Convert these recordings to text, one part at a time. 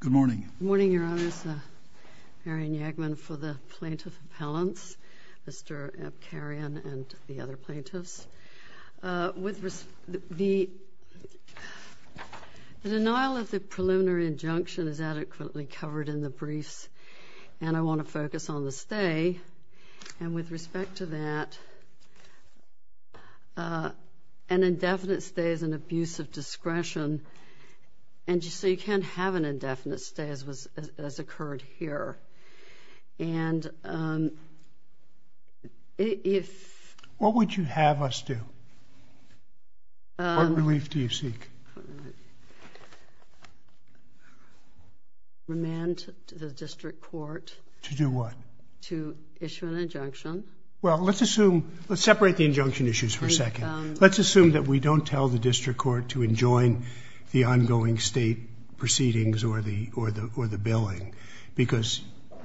Good morning. Good morning, Your Honors. Arianne Yagman for the Plaintiff Appellants, Mr. Abcarian and the other plaintiffs. The denial of the preliminary injunction is adequately covered in the briefs, and I want to focus on the stay. And with respect to that, an indefinite stay is an abuse of discretion. And so you can't have an indefinite stay as occurred here. And if… What would you have us do? What relief do you seek? Remand to the district court. To do what? To issue an injunction. Well, let's assume… Let's separate the injunction issues for a second. Let's assume that we don't tell the district court to enjoin the ongoing state proceedings or the billing, because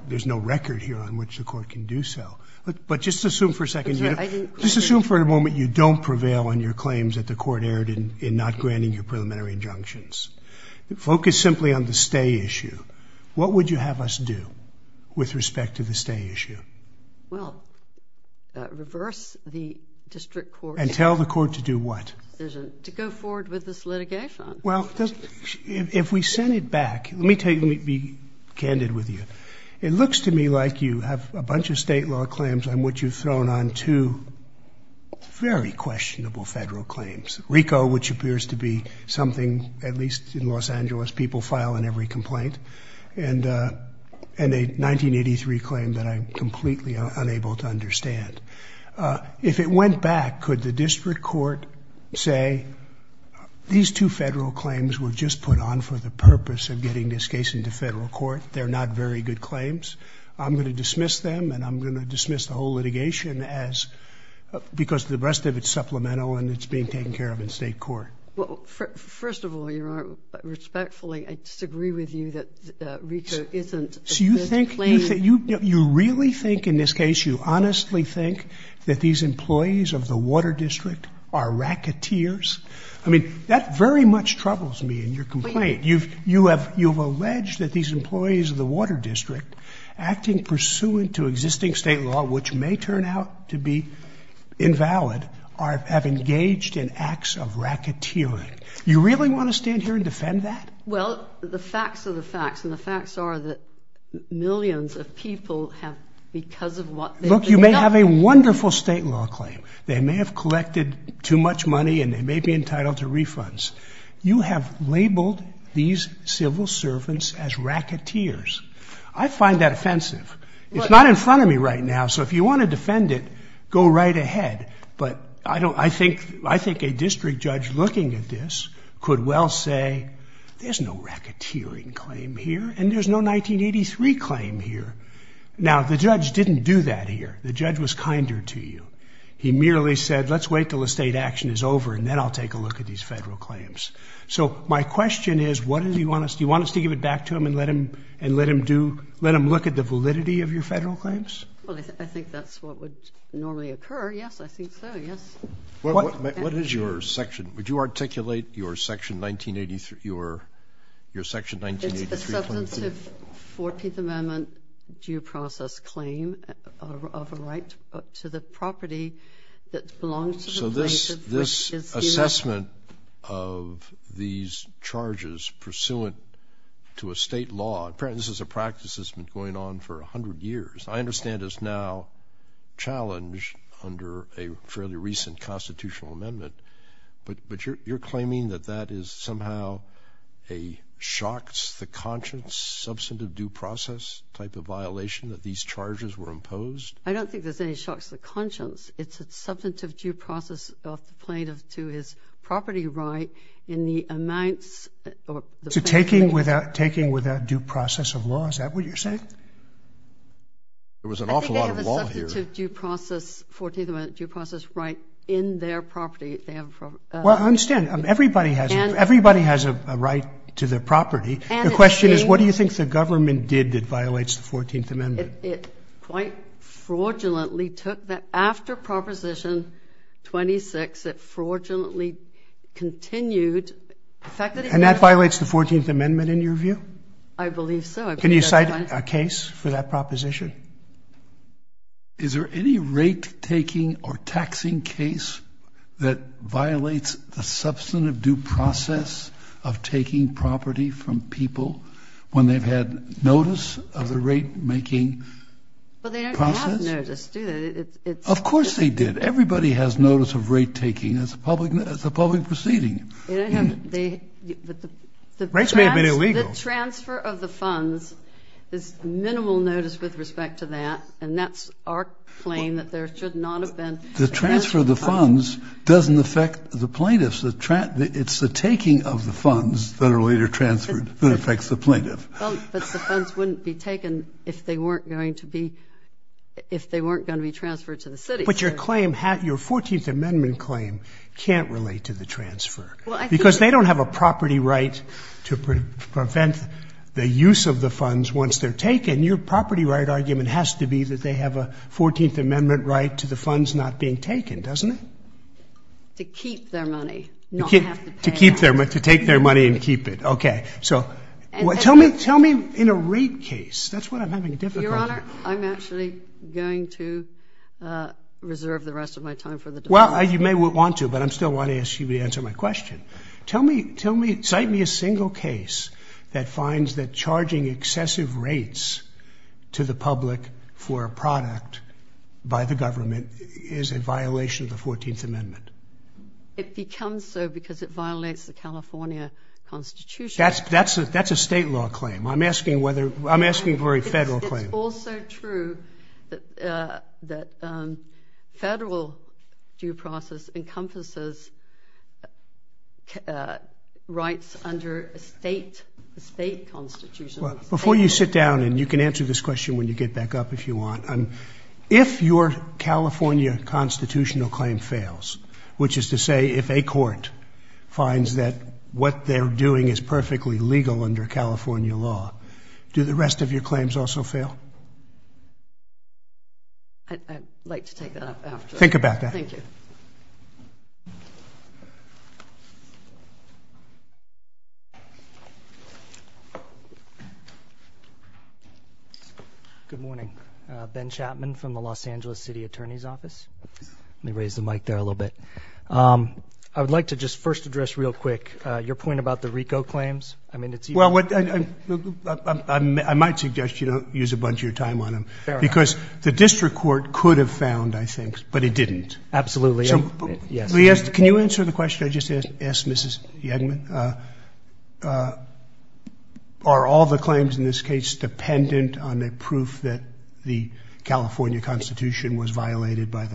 there's no record here on which the court can do so. But just assume for a second. Just assume for a moment you don't prevail on your claims that the court erred in not granting your preliminary injunctions. Focus simply on the stay issue. What would you have us do with respect to the stay issue? Well, reverse the district court's decision. And tell the court to do what? To go forward with this litigation. Well, if we send it back, let me be candid with you. It looks to me like you have a bunch of state law claims on which you've thrown on two very questionable federal claims. RICO, which appears to be something, at least in Los Angeles, people file in every complaint, and a 1983 claim that I'm completely unable to understand. If it went back, could the district court say, these two federal claims were just put on for the purpose of getting this case into federal court? They're not very good claims. I'm going to dismiss them, and I'm going to dismiss the whole litigation, because the rest of it's supplemental and it's being taken care of in state court. Well, first of all, Your Honor, respectfully, I disagree with you that RICO isn't a good claim. So you really think in this case, you honestly think that these employees of the Water District are racketeers? I mean, that very much troubles me in your complaint. You've alleged that these employees of the Water District, acting pursuant to existing state law, which may turn out to be invalid, have engaged in acts of racketeering. You really want to stand here and defend that? Well, the facts are the facts, and the facts are that millions of people have, because of what they've done. Look, you may have a wonderful state law claim. They may have collected too much money, and they may be entitled to refunds. You have labeled these civil servants as racketeers. I find that offensive. It's not in front of me right now, so if you want to defend it, go right ahead. But I think a district judge looking at this could well say, there's no racketeering claim here, and there's no 1983 claim here. Now, the judge didn't do that here. The judge was kinder to you. He merely said, let's wait until the state action is over, and then I'll take a look at these federal claims. So my question is, do you want us to give it back to him and let him look at the validity of your federal claims? Well, I think that's what would normally occur. Yes, I think so, yes. What is your section? Would you articulate your section 1983 claim to me? It's a substantive 14th Amendment due process claim of a right to the property that belongs to the plaintiff. So this assessment of these charges pursuant to a state law, apparently this is a practice that's been going on for 100 years, I understand is now challenged under a fairly recent constitutional amendment, but you're claiming that that is somehow a shocks the conscience, substantive due process type of violation that these charges were imposed? It's a substantive due process of the plaintiff to his property right in the amounts. So taking without due process of law, is that what you're saying? There was an awful lot of law here. I think they have a substantive due process 14th Amendment due process right in their property. Well, I understand. Everybody has a right to their property. The question is, what do you think the government did that violates the 14th Amendment? It quite fraudulently took that after Proposition 26, it fraudulently continued. And that violates the 14th Amendment in your view? I believe so. Can you cite a case for that proposition? Is there any rate taking or taxing case that violates the substantive due process of taking property from people when they've had notice of the rate making process? Well, they don't have notice, do they? Of course they did. Everybody has notice of rate taking. It's a public proceeding. Rates may have been illegal. The transfer of the funds is minimal notice with respect to that, and that's our claim that there should not have been. The transfer of the funds doesn't affect the plaintiffs. It's the taking of the funds that are later transferred that affects the plaintiff. But the funds wouldn't be taken if they weren't going to be transferred to the city. But your claim, your 14th Amendment claim can't relate to the transfer, because they don't have a property right to prevent the use of the funds once they're taken. Your property right argument has to be that they have a 14th Amendment right to the funds not being taken, doesn't it? To keep their money, not to have to pay them. To keep their money, to take their money and keep it. Okay. So tell me in a rate case, that's what I'm having difficulty with. Your Honor, I'm actually going to reserve the rest of my time for the debate. Well, you may want to, but I still want to ask you to answer my question. Tell me, cite me a single case that finds that charging excessive rates to the public for a product by the government is a violation of the 14th Amendment. It becomes so because it violates the California Constitution. That's a state law claim. I'm asking for a federal claim. It's also true that federal due process encompasses rights under a state constitution. Before you sit down, and you can answer this question when you get back up if you want, if your California constitutional claim fails, which is to say if a court finds that what they're doing is perfectly legal under California law, do the rest of your claims also fail? I'd like to take that up after. Think about that. Thank you. Good morning. Ben Chapman from the Los Angeles City Attorney's Office. Let me raise the mic there a little bit. I would like to just first address real quick your point about the RICO claims. I mean, it's you. Well, I might suggest you don't use a bunch of your time on them because the district court could have found, I think, but it didn't. Absolutely. Yes. Can you answer the question I just asked Mrs. Yegman? Are all the claims in this case dependent on the proof that the California Constitution was violated by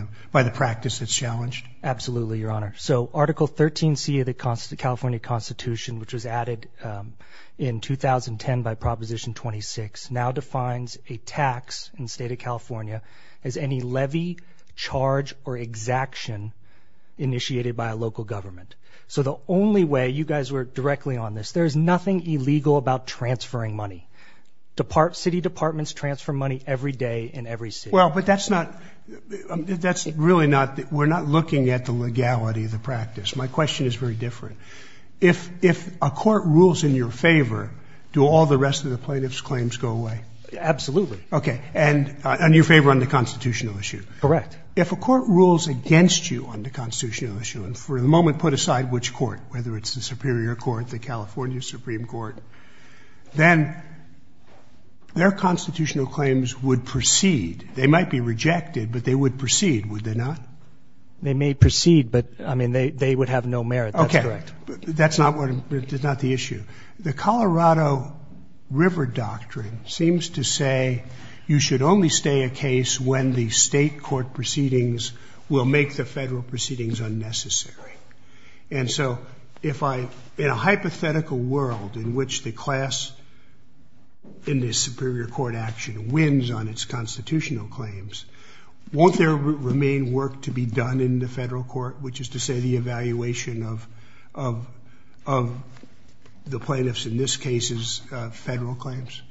the practice that's challenged? Absolutely, Your Honor. So Article 13C of the California Constitution, which was added in 2010 by Proposition 26, now defines a tax in the state of California as any levy, charge, or exaction initiated by a local government. So the only way you guys work directly on this, there's nothing illegal about transferring money. City departments transfer money every day in every city. Well, but that's not – that's really not – we're not looking at the legality of the practice. My question is very different. If a court rules in your favor, do all the rest of the plaintiff's claims go away? Absolutely. Okay. And you're in favor on the constitutional issue. Correct. If a court rules against you on the constitutional issue and for the moment put aside which court, whether it's the Superior Court, the California Supreme Court, then their constitutional claims would proceed. They might be rejected, but they would proceed, would they not? They may proceed, but, I mean, they would have no merit. That's correct. Okay. That's not what – that's not the issue. The Colorado River Doctrine seems to say you should only stay a case when the state court proceedings will make the federal proceedings unnecessary. And so if I – in a hypothetical world in which the class in the Superior Court action wins on its constitutional claims, won't there remain work to be done in the federal court, which is to say the evaluation of the plaintiff's, in this case, federal claims?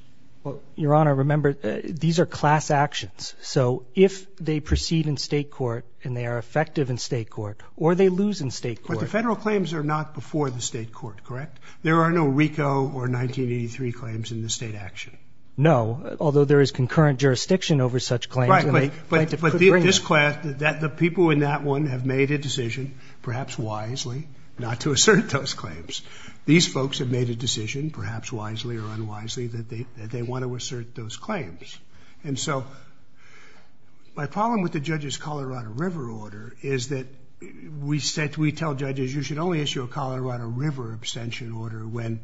Well, Your Honor, remember, these are class actions. So if they proceed in state court and they are effective in state court or they lose in state court – But the federal claims are not before the state court, correct? There are no RICO or 1983 claims in the state action. No, although there is concurrent jurisdiction over such claims. Rightly. But this class – the people in that one have made a decision, perhaps wisely, not to assert those claims. These folks have made a decision, perhaps wisely or unwisely, that they want to assert those claims. And so my problem with the judge's Colorado River order is that we tell judges you should only issue a Colorado River abstention order when,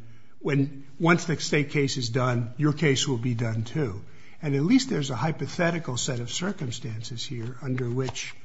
once the state case is done, your case will be done too. And at least there's a hypothetical set of circumstances here under which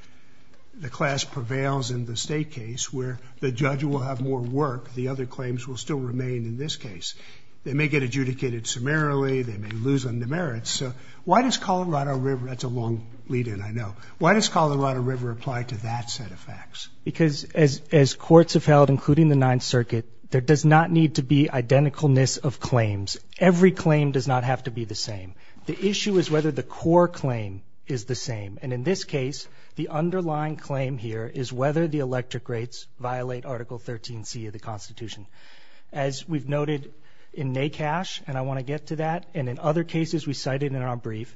the class prevails in the state case where the judge will have more work, the other claims will still remain in this case. They may get adjudicated summarily, they may lose on the merits. So why does Colorado River – that's a long lead-in, I know. Why does Colorado River apply to that set of facts? Because as courts have held, including the Ninth Circuit, there does not need to be identicalness of claims. Every claim does not have to be the same. The issue is whether the core claim is the same. And in this case, the underlying claim here is whether the electric rates violate Article 13C of the Constitution. As we've noted in NACASH, and I want to get to that, and in other cases we cited in our brief,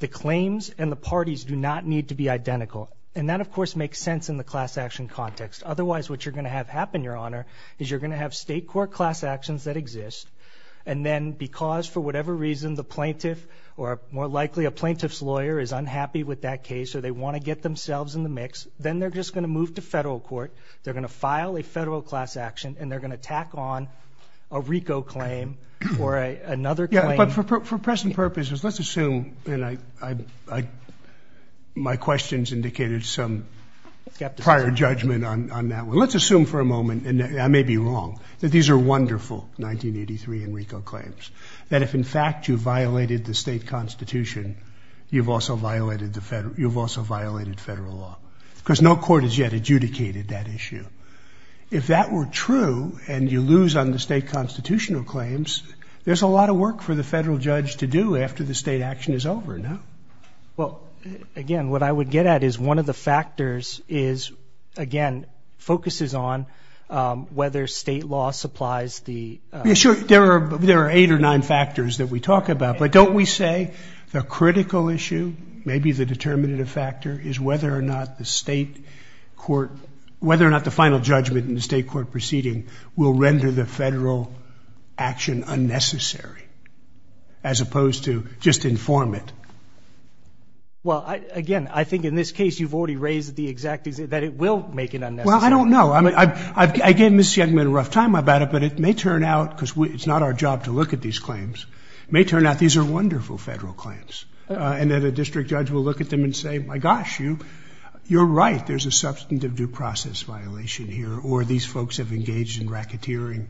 the claims and the parties do not need to be identical. And that, of course, makes sense in the class action context. Otherwise, what you're going to have happen, Your Honor, is you're going to have state court class actions that exist, and then because, for whatever reason, the plaintiff, or more likely a plaintiff's lawyer, is unhappy with that case or they want to get themselves in the mix, then they're just going to move to federal court, they're going to file a federal class action, and they're going to tack on a RICO claim or another claim. But for present purposes, let's assume, and my questions indicated some prior judgment on that one. Let's assume for a moment, and I may be wrong, that these are wonderful 1983 and RICO claims, that if, in fact, you violated the state constitution, you've also violated federal law. Because no court has yet adjudicated that issue. If that were true and you lose on the state constitutional claims, there's a lot of work for the federal judge to do after the state action is over, no? Well, again, what I would get at is one of the factors is, again, focuses on whether state law supplies the ---- Yeah, sure, there are eight or nine factors that we talk about. But don't we say the critical issue, maybe the determinative factor, is whether or not the state court ---- whether or not the final judgment in the state court proceeding will render the federal action unnecessary, as opposed to just inform it. Well, again, I think in this case you've already raised the exact ---- that it will make it unnecessary. Well, I don't know. I gave Ms. Siegman a rough time about it, but it may turn out, because it's not our job to look at these claims, it may turn out these are wonderful federal claims, and that a district judge will look at them and say, my gosh, you're right, there's a substantive due process violation here, or these folks have engaged in racketeering.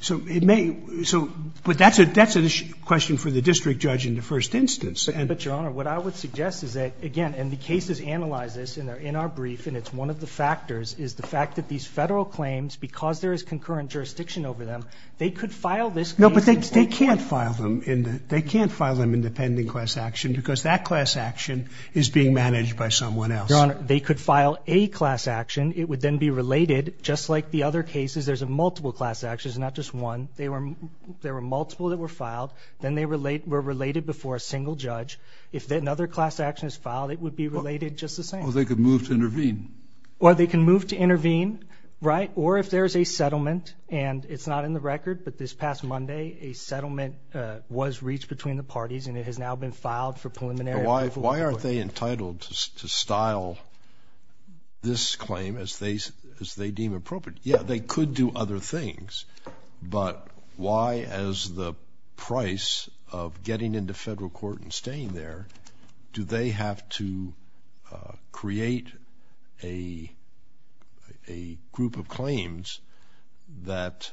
So it may ---- but that's a question for the district judge in the first instance. But, Your Honor, what I would suggest is that, again, and the cases analyze this, and they're in our brief, and it's one of the factors, is the fact that these federal claims, because there is concurrent jurisdiction over them, they could file this case in court court. No, but they can't file them in the pending class action because that class action is being managed by someone else. Your Honor, they could file a class action. It would then be related, just like the other cases, there's multiple class actions, not just one. There were multiple that were filed. Then they were related before a single judge. If another class action is filed, it would be related just the same. Or they could move to intervene. Or they can move to intervene, right? Or if there is a settlement, and it's not in the record, but this past Monday, a settlement was reached between the parties, and it has now been filed for preliminary approval. Why aren't they entitled to style this claim as they deem appropriate? Yeah, they could do other things. But why, as the price of getting into federal court and staying there, do they have to create a group of claims that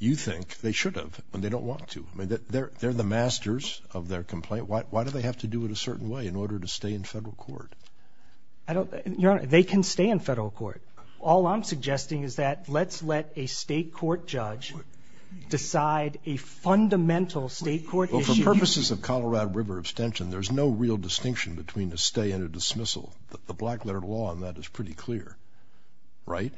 you think they should have when they don't want to? I mean, they're the masters of their complaint. Why do they have to do it a certain way in order to stay in federal court? Your Honor, they can stay in federal court. All I'm suggesting is that let's let a state court judge decide a fundamental state court issue. Well, for purposes of Colorado River abstention, there's no real distinction between a stay and a dismissal. The black letter law on that is pretty clear, right?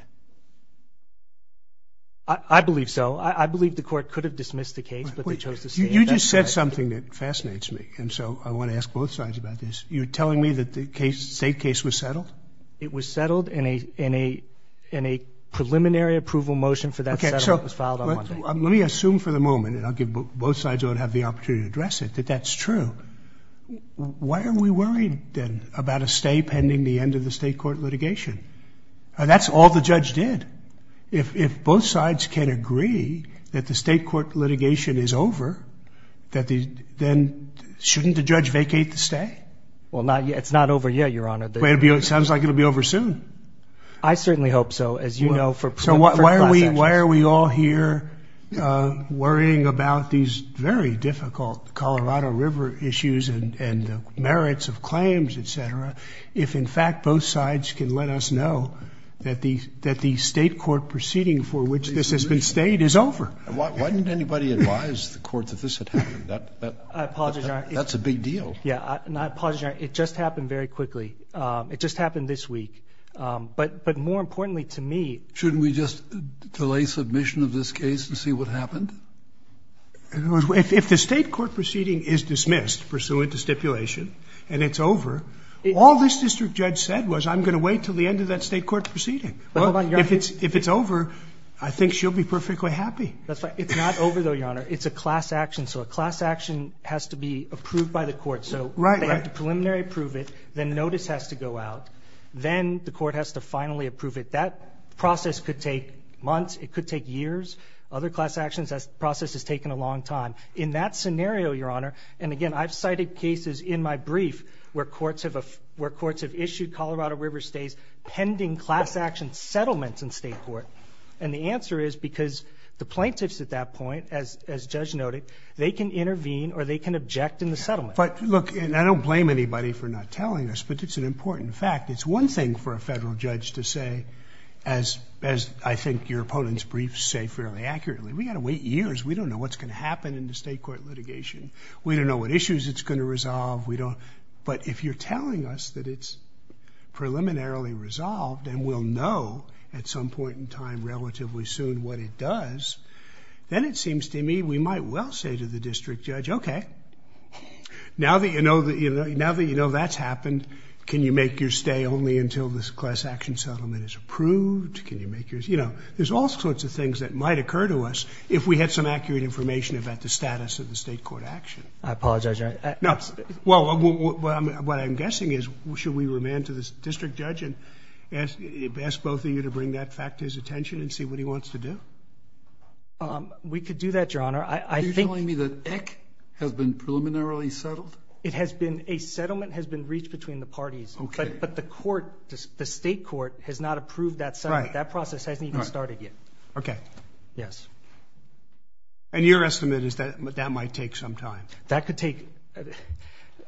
I believe so. I believe the court could have dismissed the case, but they chose to stay. You just said something that fascinates me, and so I want to ask both sides about this. You're telling me that the state case was settled? It was settled in a preliminary approval motion for that settlement. Okay, so let me assume for the moment, and I'll give both sides who don't have the opportunity to address it, that that's true. Why are we worried, then, about a stay pending the end of the state court litigation? That's all the judge did. If both sides can agree that the state court litigation is over, then shouldn't the judge vacate the stay? Well, it's not over yet, Your Honor. It sounds like it will be over soon. I certainly hope so, as you know. So why are we all here worrying about these very difficult Colorado River issues and the merits of claims, et cetera, if, in fact, both sides can let us know that the state court proceeding for which this has been stayed is over? Why didn't anybody advise the court that this had happened? I apologize, Your Honor. That's a big deal. Yeah, and I apologize, Your Honor. It just happened very quickly. It just happened this week. But more importantly to me- Shouldn't we just delay submission of this case and see what happened? If the state court proceeding is dismissed pursuant to stipulation and it's over, all this district judge said was, I'm going to wait until the end of that state court proceeding. Well, if it's over, I think she'll be perfectly happy. It's not over, though, Your Honor. It's a class action. So a class action has to be approved by the court. So they have to preliminary approve it. Then notice has to go out. Then the court has to finally approve it. That process could take months. It could take years. Other class actions, that process has taken a long time. In that scenario, Your Honor, and, again, I've cited cases in my brief where courts have issued Colorado River stays pending class action settlements in state court. And the answer is because the plaintiffs at that point, as Judge noted, they can intervene or they can object in the settlement. But, look, and I don't blame anybody for not telling us, but it's an important fact. It's one thing for a federal judge to say, as I think your opponent's briefs say fairly accurately, we've got to wait years. We don't know what's going to happen in the state court litigation. We don't know what issues it's going to resolve. But if you're telling us that it's preliminarily resolved and we'll know at some point in time, relatively soon, what it does, then it seems to me we might well say to the district judge, okay, now that you know that's happened, can you make your stay only until this class action settlement is approved? There's all sorts of things that might occur to us if we had some accurate information about the status of the state court action. No, well, what I'm guessing is should we remand to the district judge and ask both of you to bring that fact to his attention and see what he wants to do? We could do that, Your Honor. Are you telling me that ICC has been preliminarily settled? It has been. A settlement has been reached between the parties. Okay. But the court, the state court has not approved that settlement. That process hasn't even started yet. Okay. Yes. And your estimate is that that might take some time? That could take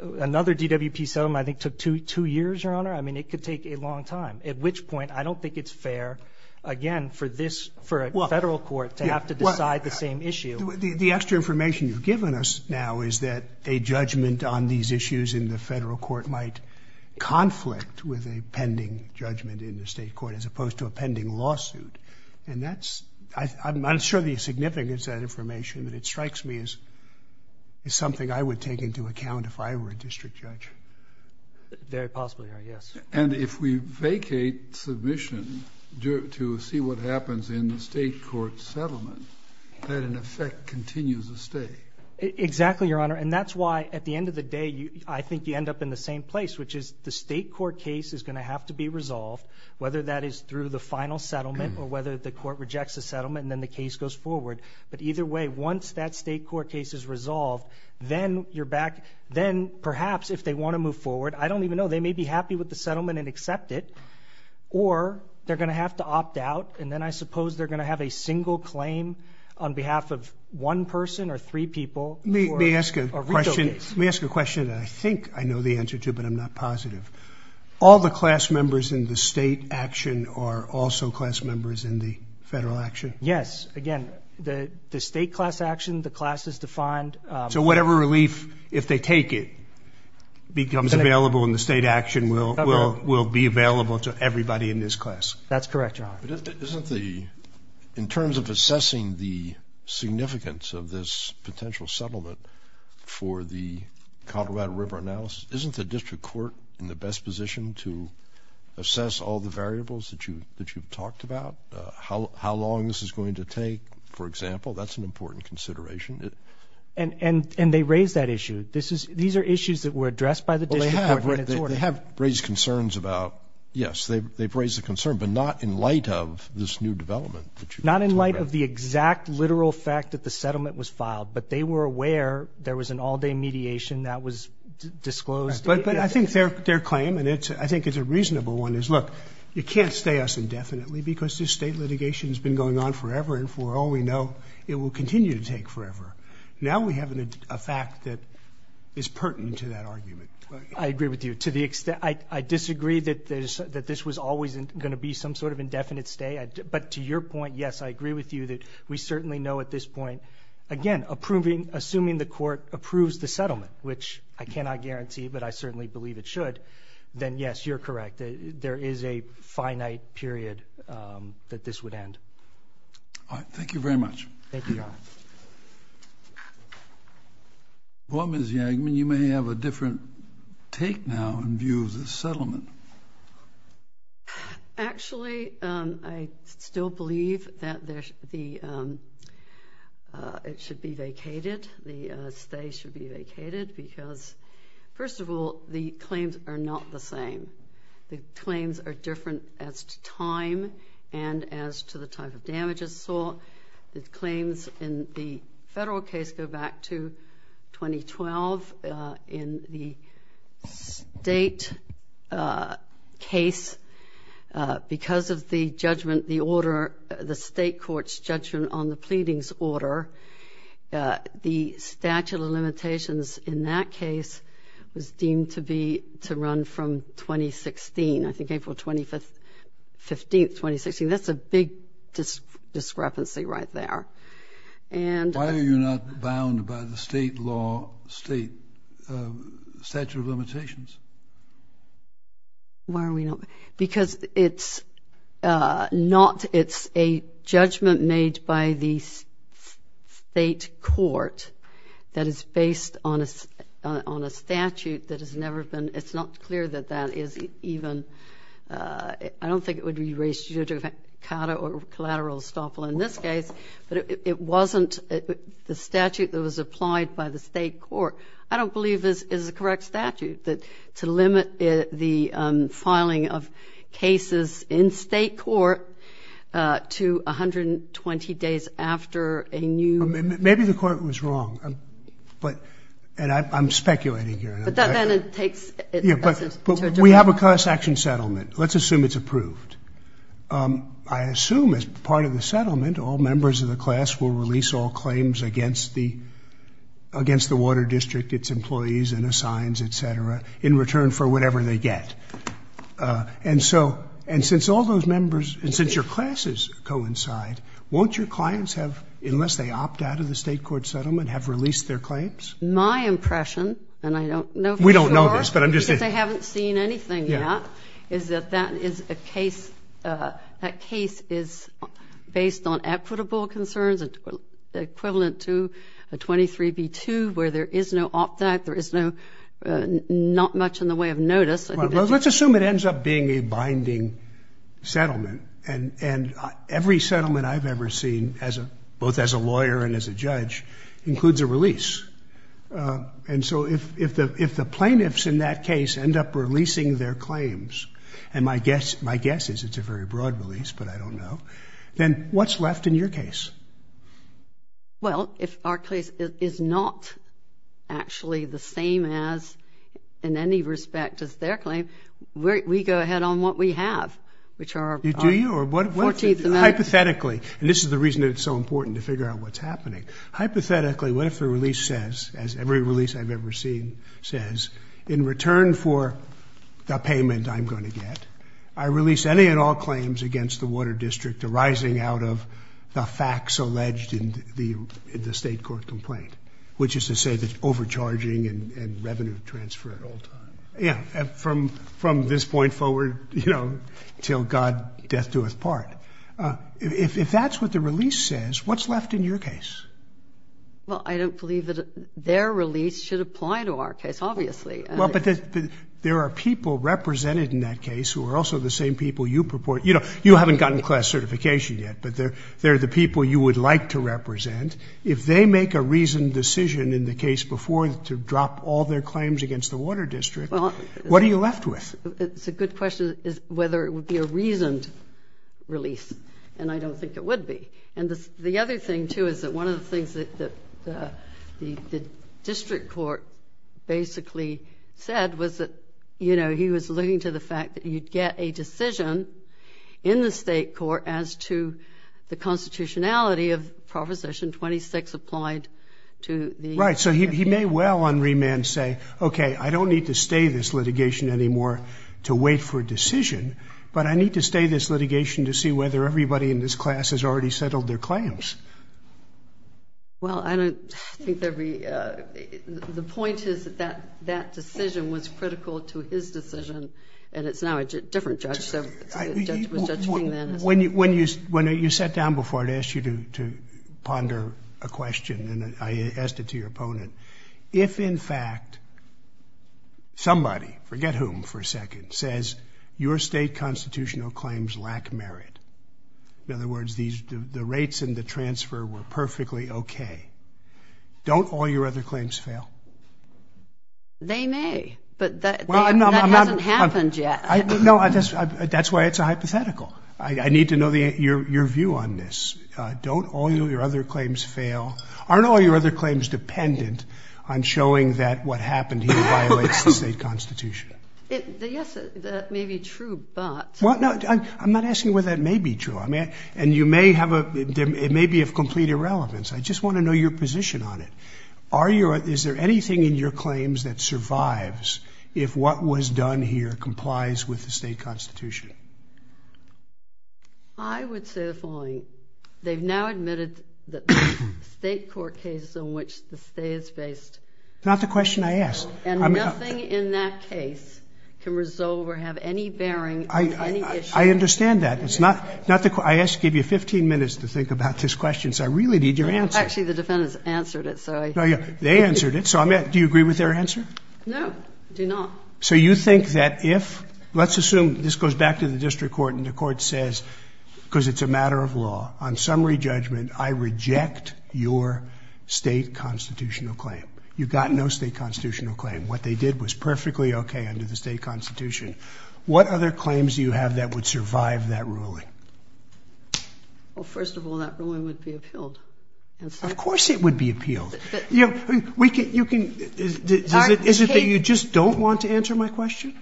another DWP settlement I think took two years, Your Honor. I mean, it could take a long time, at which point I don't think it's fair, again, for this, for a federal court to have to decide the same issue. The extra information you've given us now is that a judgment on these issues in the federal court might conflict with a pending judgment in the state court as opposed to a pending lawsuit. I'm not sure the significance of that information, but it strikes me as something I would take into account if I were a district judge. Very possibly, Your Honor, yes. And if we vacate submission to see what happens in the state court settlement, that in effect continues to stay. Exactly, Your Honor, and that's why at the end of the day I think you end up in the same place, which is the state court case is going to have to be resolved, whether that is through the final settlement or whether the court rejects the settlement and then the case goes forward. But either way, once that state court case is resolved, then you're back. Then perhaps if they want to move forward, I don't even know, they may be happy with the settlement and accept it, or they're going to have to opt out, and then I suppose they're going to have a single claim on behalf of one person or three people for a retail case. Let me ask you a question that I think I know the answer to, but I'm not positive. All the class members in the state action are also class members in the federal action? Yes. Again, the state class action, the class is defined. So whatever relief, if they take it, becomes available in the state action will be available to everybody in this class? That's correct, Your Honor. In terms of assessing the significance of this potential settlement for the Colorado River analysis, isn't the district court in the best position to assess all the variables that you've talked about? How long this is going to take, for example, that's an important consideration. And they raised that issue. These are issues that were addressed by the district court in its order. They have raised concerns about, yes, they've raised a concern, but not in light of this new development. Not in light of the exact literal fact that the settlement was filed, but they were aware there was an all-day mediation that was disclosed. But I think their claim, and I think it's a reasonable one, is, look, you can't stay us indefinitely because this state litigation has been going on forever, and for all we know, it will continue to take forever. Now we have a fact that is pertinent to that argument. I agree with you to the extent. I disagree that this was always going to be some sort of indefinite stay, but to your point, yes, I agree with you that we certainly know at this point, again, assuming the court approves the settlement, which I cannot guarantee, but I certainly believe it should, then yes, you're correct. There is a finite period that this would end. Thank you very much. Thank you, Your Honor. Well, Ms. Yangman, you may have a different take now in view of this settlement. Actually, I still believe that it should be vacated. The stay should be vacated because, first of all, the claims are not the same. The claims are different as to time and as to the type of damage it saw. The claims in the federal case go back to 2012. In the state case, because of the judgment, the order, the state court's judgment on the pleadings order, the statute of limitations in that case was deemed to be to run from 2016, I think April 15, 2016. That's a big discrepancy right there. Why are you not bound by the state law, state statute of limitations? Why are we not? Because it's a judgment made by the state court that is based on a statute that has never been, it's not clear that that is even, I don't think it would be raised judicata or collateral estoppel in this case, but it wasn't the statute that was applied by the state court. I don't believe this is the correct statute to limit the filing of cases in state court to 120 days after a new. Maybe the court was wrong, but, and I'm speculating here. But that then it takes. But we have a class action settlement. Let's assume it's approved. I assume as part of the settlement, all members of the class will release all claims against the Water District, its employees and assigns, et cetera, in return for whatever they get. And so, and since all those members, and since your classes coincide, won't your clients have, unless they opt out of the state court settlement, have released their claims? My impression, and I don't know for sure. We don't know this, but I'm just saying. Because they haven't seen anything yet, is that that is a case, that case is based on equitable concerns, equivalent to a 23B2 where there is no opt-out, there is no, not much in the way of notice. Well, let's assume it ends up being a binding settlement. And every settlement I've ever seen, both as a lawyer and as a judge, includes a release. And so if the plaintiffs in that case end up releasing their claims, and my guess is it's a very broad release, but I don't know, then what's left in your case? Well, if our case is not actually the same as, in any respect, as their claim, we go ahead on what we have, which are our 14th amendment. Hypothetically, and this is the reason it's so important to figure out what's happening. Hypothetically, what if the release says, as every release I've ever seen says, in return for the payment I'm going to get, I release any and all claims against the Water District arising out of the facts alleged in the state court complaint, which is to say that it's overcharging and revenue transfer at all times. Yeah, from this point forward, you know, till God death do us part. If that's what the release says, what's left in your case? Well, I don't believe that their release should apply to our case, obviously. Well, but there are people represented in that case who are also the same people you purport. You know, you haven't gotten class certification yet, but they're the people you would like to represent. If they make a reasoned decision in the case before to drop all their claims against the Water District, what are you left with? The good question is whether it would be a reasoned release, and I don't think it would be. And the other thing, too, is that one of the things that the district court basically said was that, you know, he was alluding to the fact that you'd get a decision in the state court as to the constitutionality of Proposition 26 applied to the case. Right, so he may well on remand say, okay, I don't need to stay this litigation anymore to wait for a decision, but I need to stay this litigation to see whether everybody in this class has already settled their claims. Well, I don't think there would be. The point is that that decision was critical to his decision, and it's now a different judge. So the judge was Judge King then. When you sat down before, I'd asked you to ponder a question, and I asked it to your opponent. If, in fact, somebody, forget whom for a second, says your state constitutional claims lack merit, in other words, the rates and the transfer were perfectly okay, don't all your other claims fail? They may, but that hasn't happened yet. No, that's why it's a hypothetical. I need to know your view on this. Don't all your other claims fail? Aren't all your other claims dependent on showing that what happened here violates the state constitution? Yes, that may be true, but. I'm not asking whether that may be true, and it may be of complete irrelevance. I just want to know your position on it. Is there anything in your claims that survives if what was done here complies with the state constitution? I would say the following. They've now admitted that the state court case in which the stay is based. Not the question I asked. And nothing in that case can resolve or have any bearing on any issue. I understand that. I asked to give you 15 minutes to think about this question, so I really need your answer. Actually, the defendants answered it, so I. They answered it, so do you agree with their answer? No, I do not. So you think that if, let's assume this goes back to the district court and the court says, because it's a matter of law, on summary judgment, I reject your state constitutional claim. You've got no state constitutional claim. What they did was perfectly okay under the state constitution. What other claims do you have that would survive that ruling? Well, first of all, that ruling would be appealed. Of course it would be appealed. Is it that you just don't want to answer my question?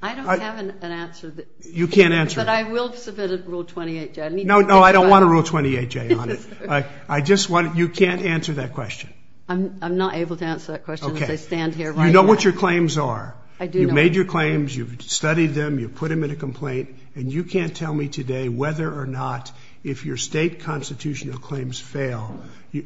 I don't have an answer. You can't answer it. But I will submit a Rule 28J. No, no, I don't want a Rule 28J on it. You can't answer that question. I'm not able to answer that question as I stand here right now. You know what your claims are. I do know. You made your claims. You've studied them. You've put them in a complaint. And you can't tell me today whether or not if your state constitutional claims fail,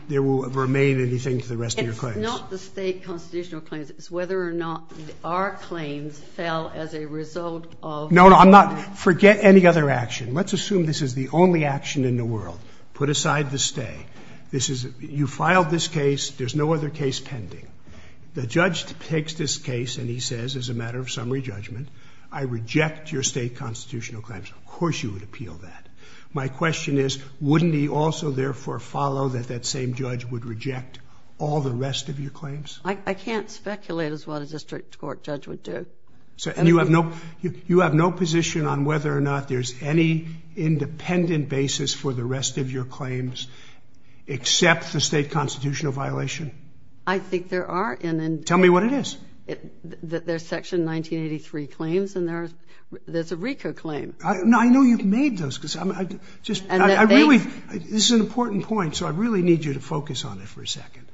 there will remain anything to the rest of your claims. It's not the state constitutional claims. My question is whether or not our claims fail as a result of the state constitutional claims. No, no. Forget any other action. Let's assume this is the only action in the world. Put aside the stay. You filed this case. There's no other case pending. The judge takes this case and he says, as a matter of summary judgment, I reject your state constitutional claims. Of course you would appeal that. My question is, wouldn't he also therefore follow that that same judge would reject all the rest of your claims? I can't speculate as what a district court judge would do. And you have no position on whether or not there's any independent basis for the rest of your claims except the state constitutional violation? I think there are. Tell me what it is. There's Section 1983 claims and there's a RICO claim. I know you've made those. This is an important point, so I really need you to focus on it for a second.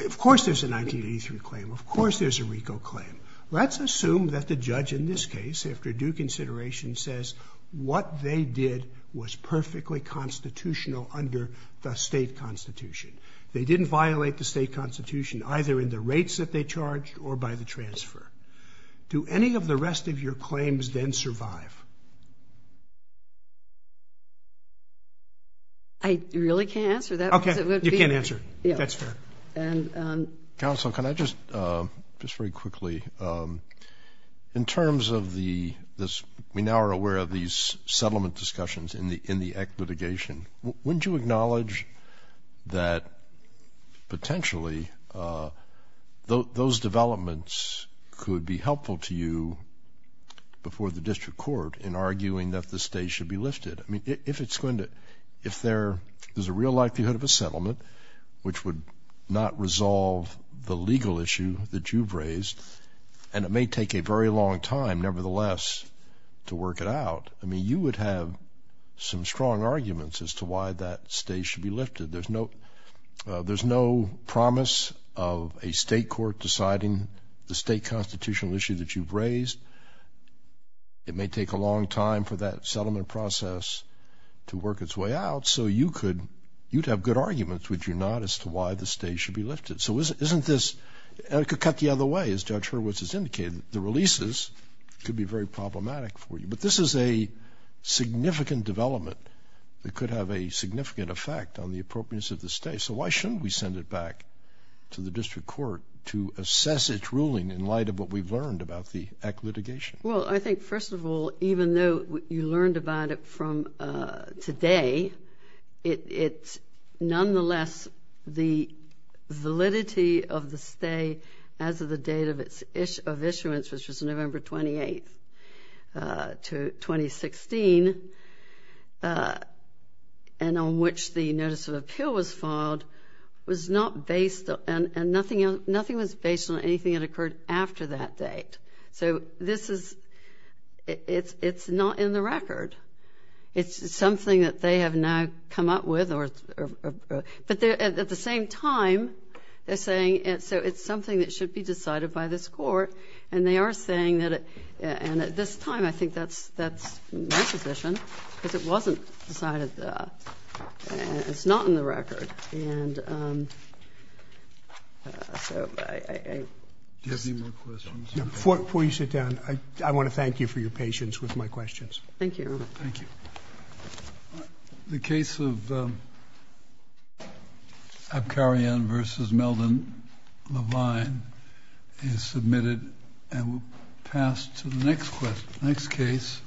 Of course there's a 1983 claim. Of course there's a RICO claim. Let's assume that the judge in this case, after due consideration, says what they did was perfectly constitutional under the state constitution. They didn't violate the state constitution either in the rates that they charged or by the transfer. Do any of the rest of your claims then survive? I really can't answer that. Okay. You can't answer. That's fair. Counsel, can I just, just very quickly, in terms of the, we now are aware of these settlement discussions in the Act litigation. Wouldn't you acknowledge that potentially those developments could be helpful to you before the district court in arguing that the state should be lifted? I mean, if it's going to, if there, there's a real likelihood of a settlement which would not resolve the legal issue that you've raised, and it may take a very long time nevertheless to work it out, I mean, you would have some strong arguments as to why that state should be lifted. There's no, there's no promise of a state court deciding the state constitutional issue that you've raised. It may take a long time for that settlement process to work its way out, so you could, you'd have good arguments, would you not, as to why the state should be lifted? So isn't this, and it could cut the other way, as Judge Hurwitz has indicated, the releases could be very problematic for you. But this is a significant development that could have a significant effect on the appropriateness of the state. So why shouldn't we send it back to the district court to assess its ruling in light of what we've learned about the Eck litigation? Well, I think, first of all, even though you learned about it from today, it, it, nonetheless, the validity of the stay as of the date of its issuance, which was November 28th to 2016, and on which the notice of appeal was filed, was not based, and nothing else, nothing was based on anything that occurred after that date. So this is, it's, it's not in the record. It's something that they have now come up with, or, but they're, at the same time, they're saying, so it's something that should be decided by this court, and they are saying that it, and at this time, I think that's, that's my position, because it wasn't decided, it's not in the record. And, so, I, I... Do you have any more questions? Before you sit down, I, I want to thank you for your patience with my questions. Thank you, Your Honor. Thank you. The case of Abkarian versus Melvin Levine is submitted and will pass to the next question, next case.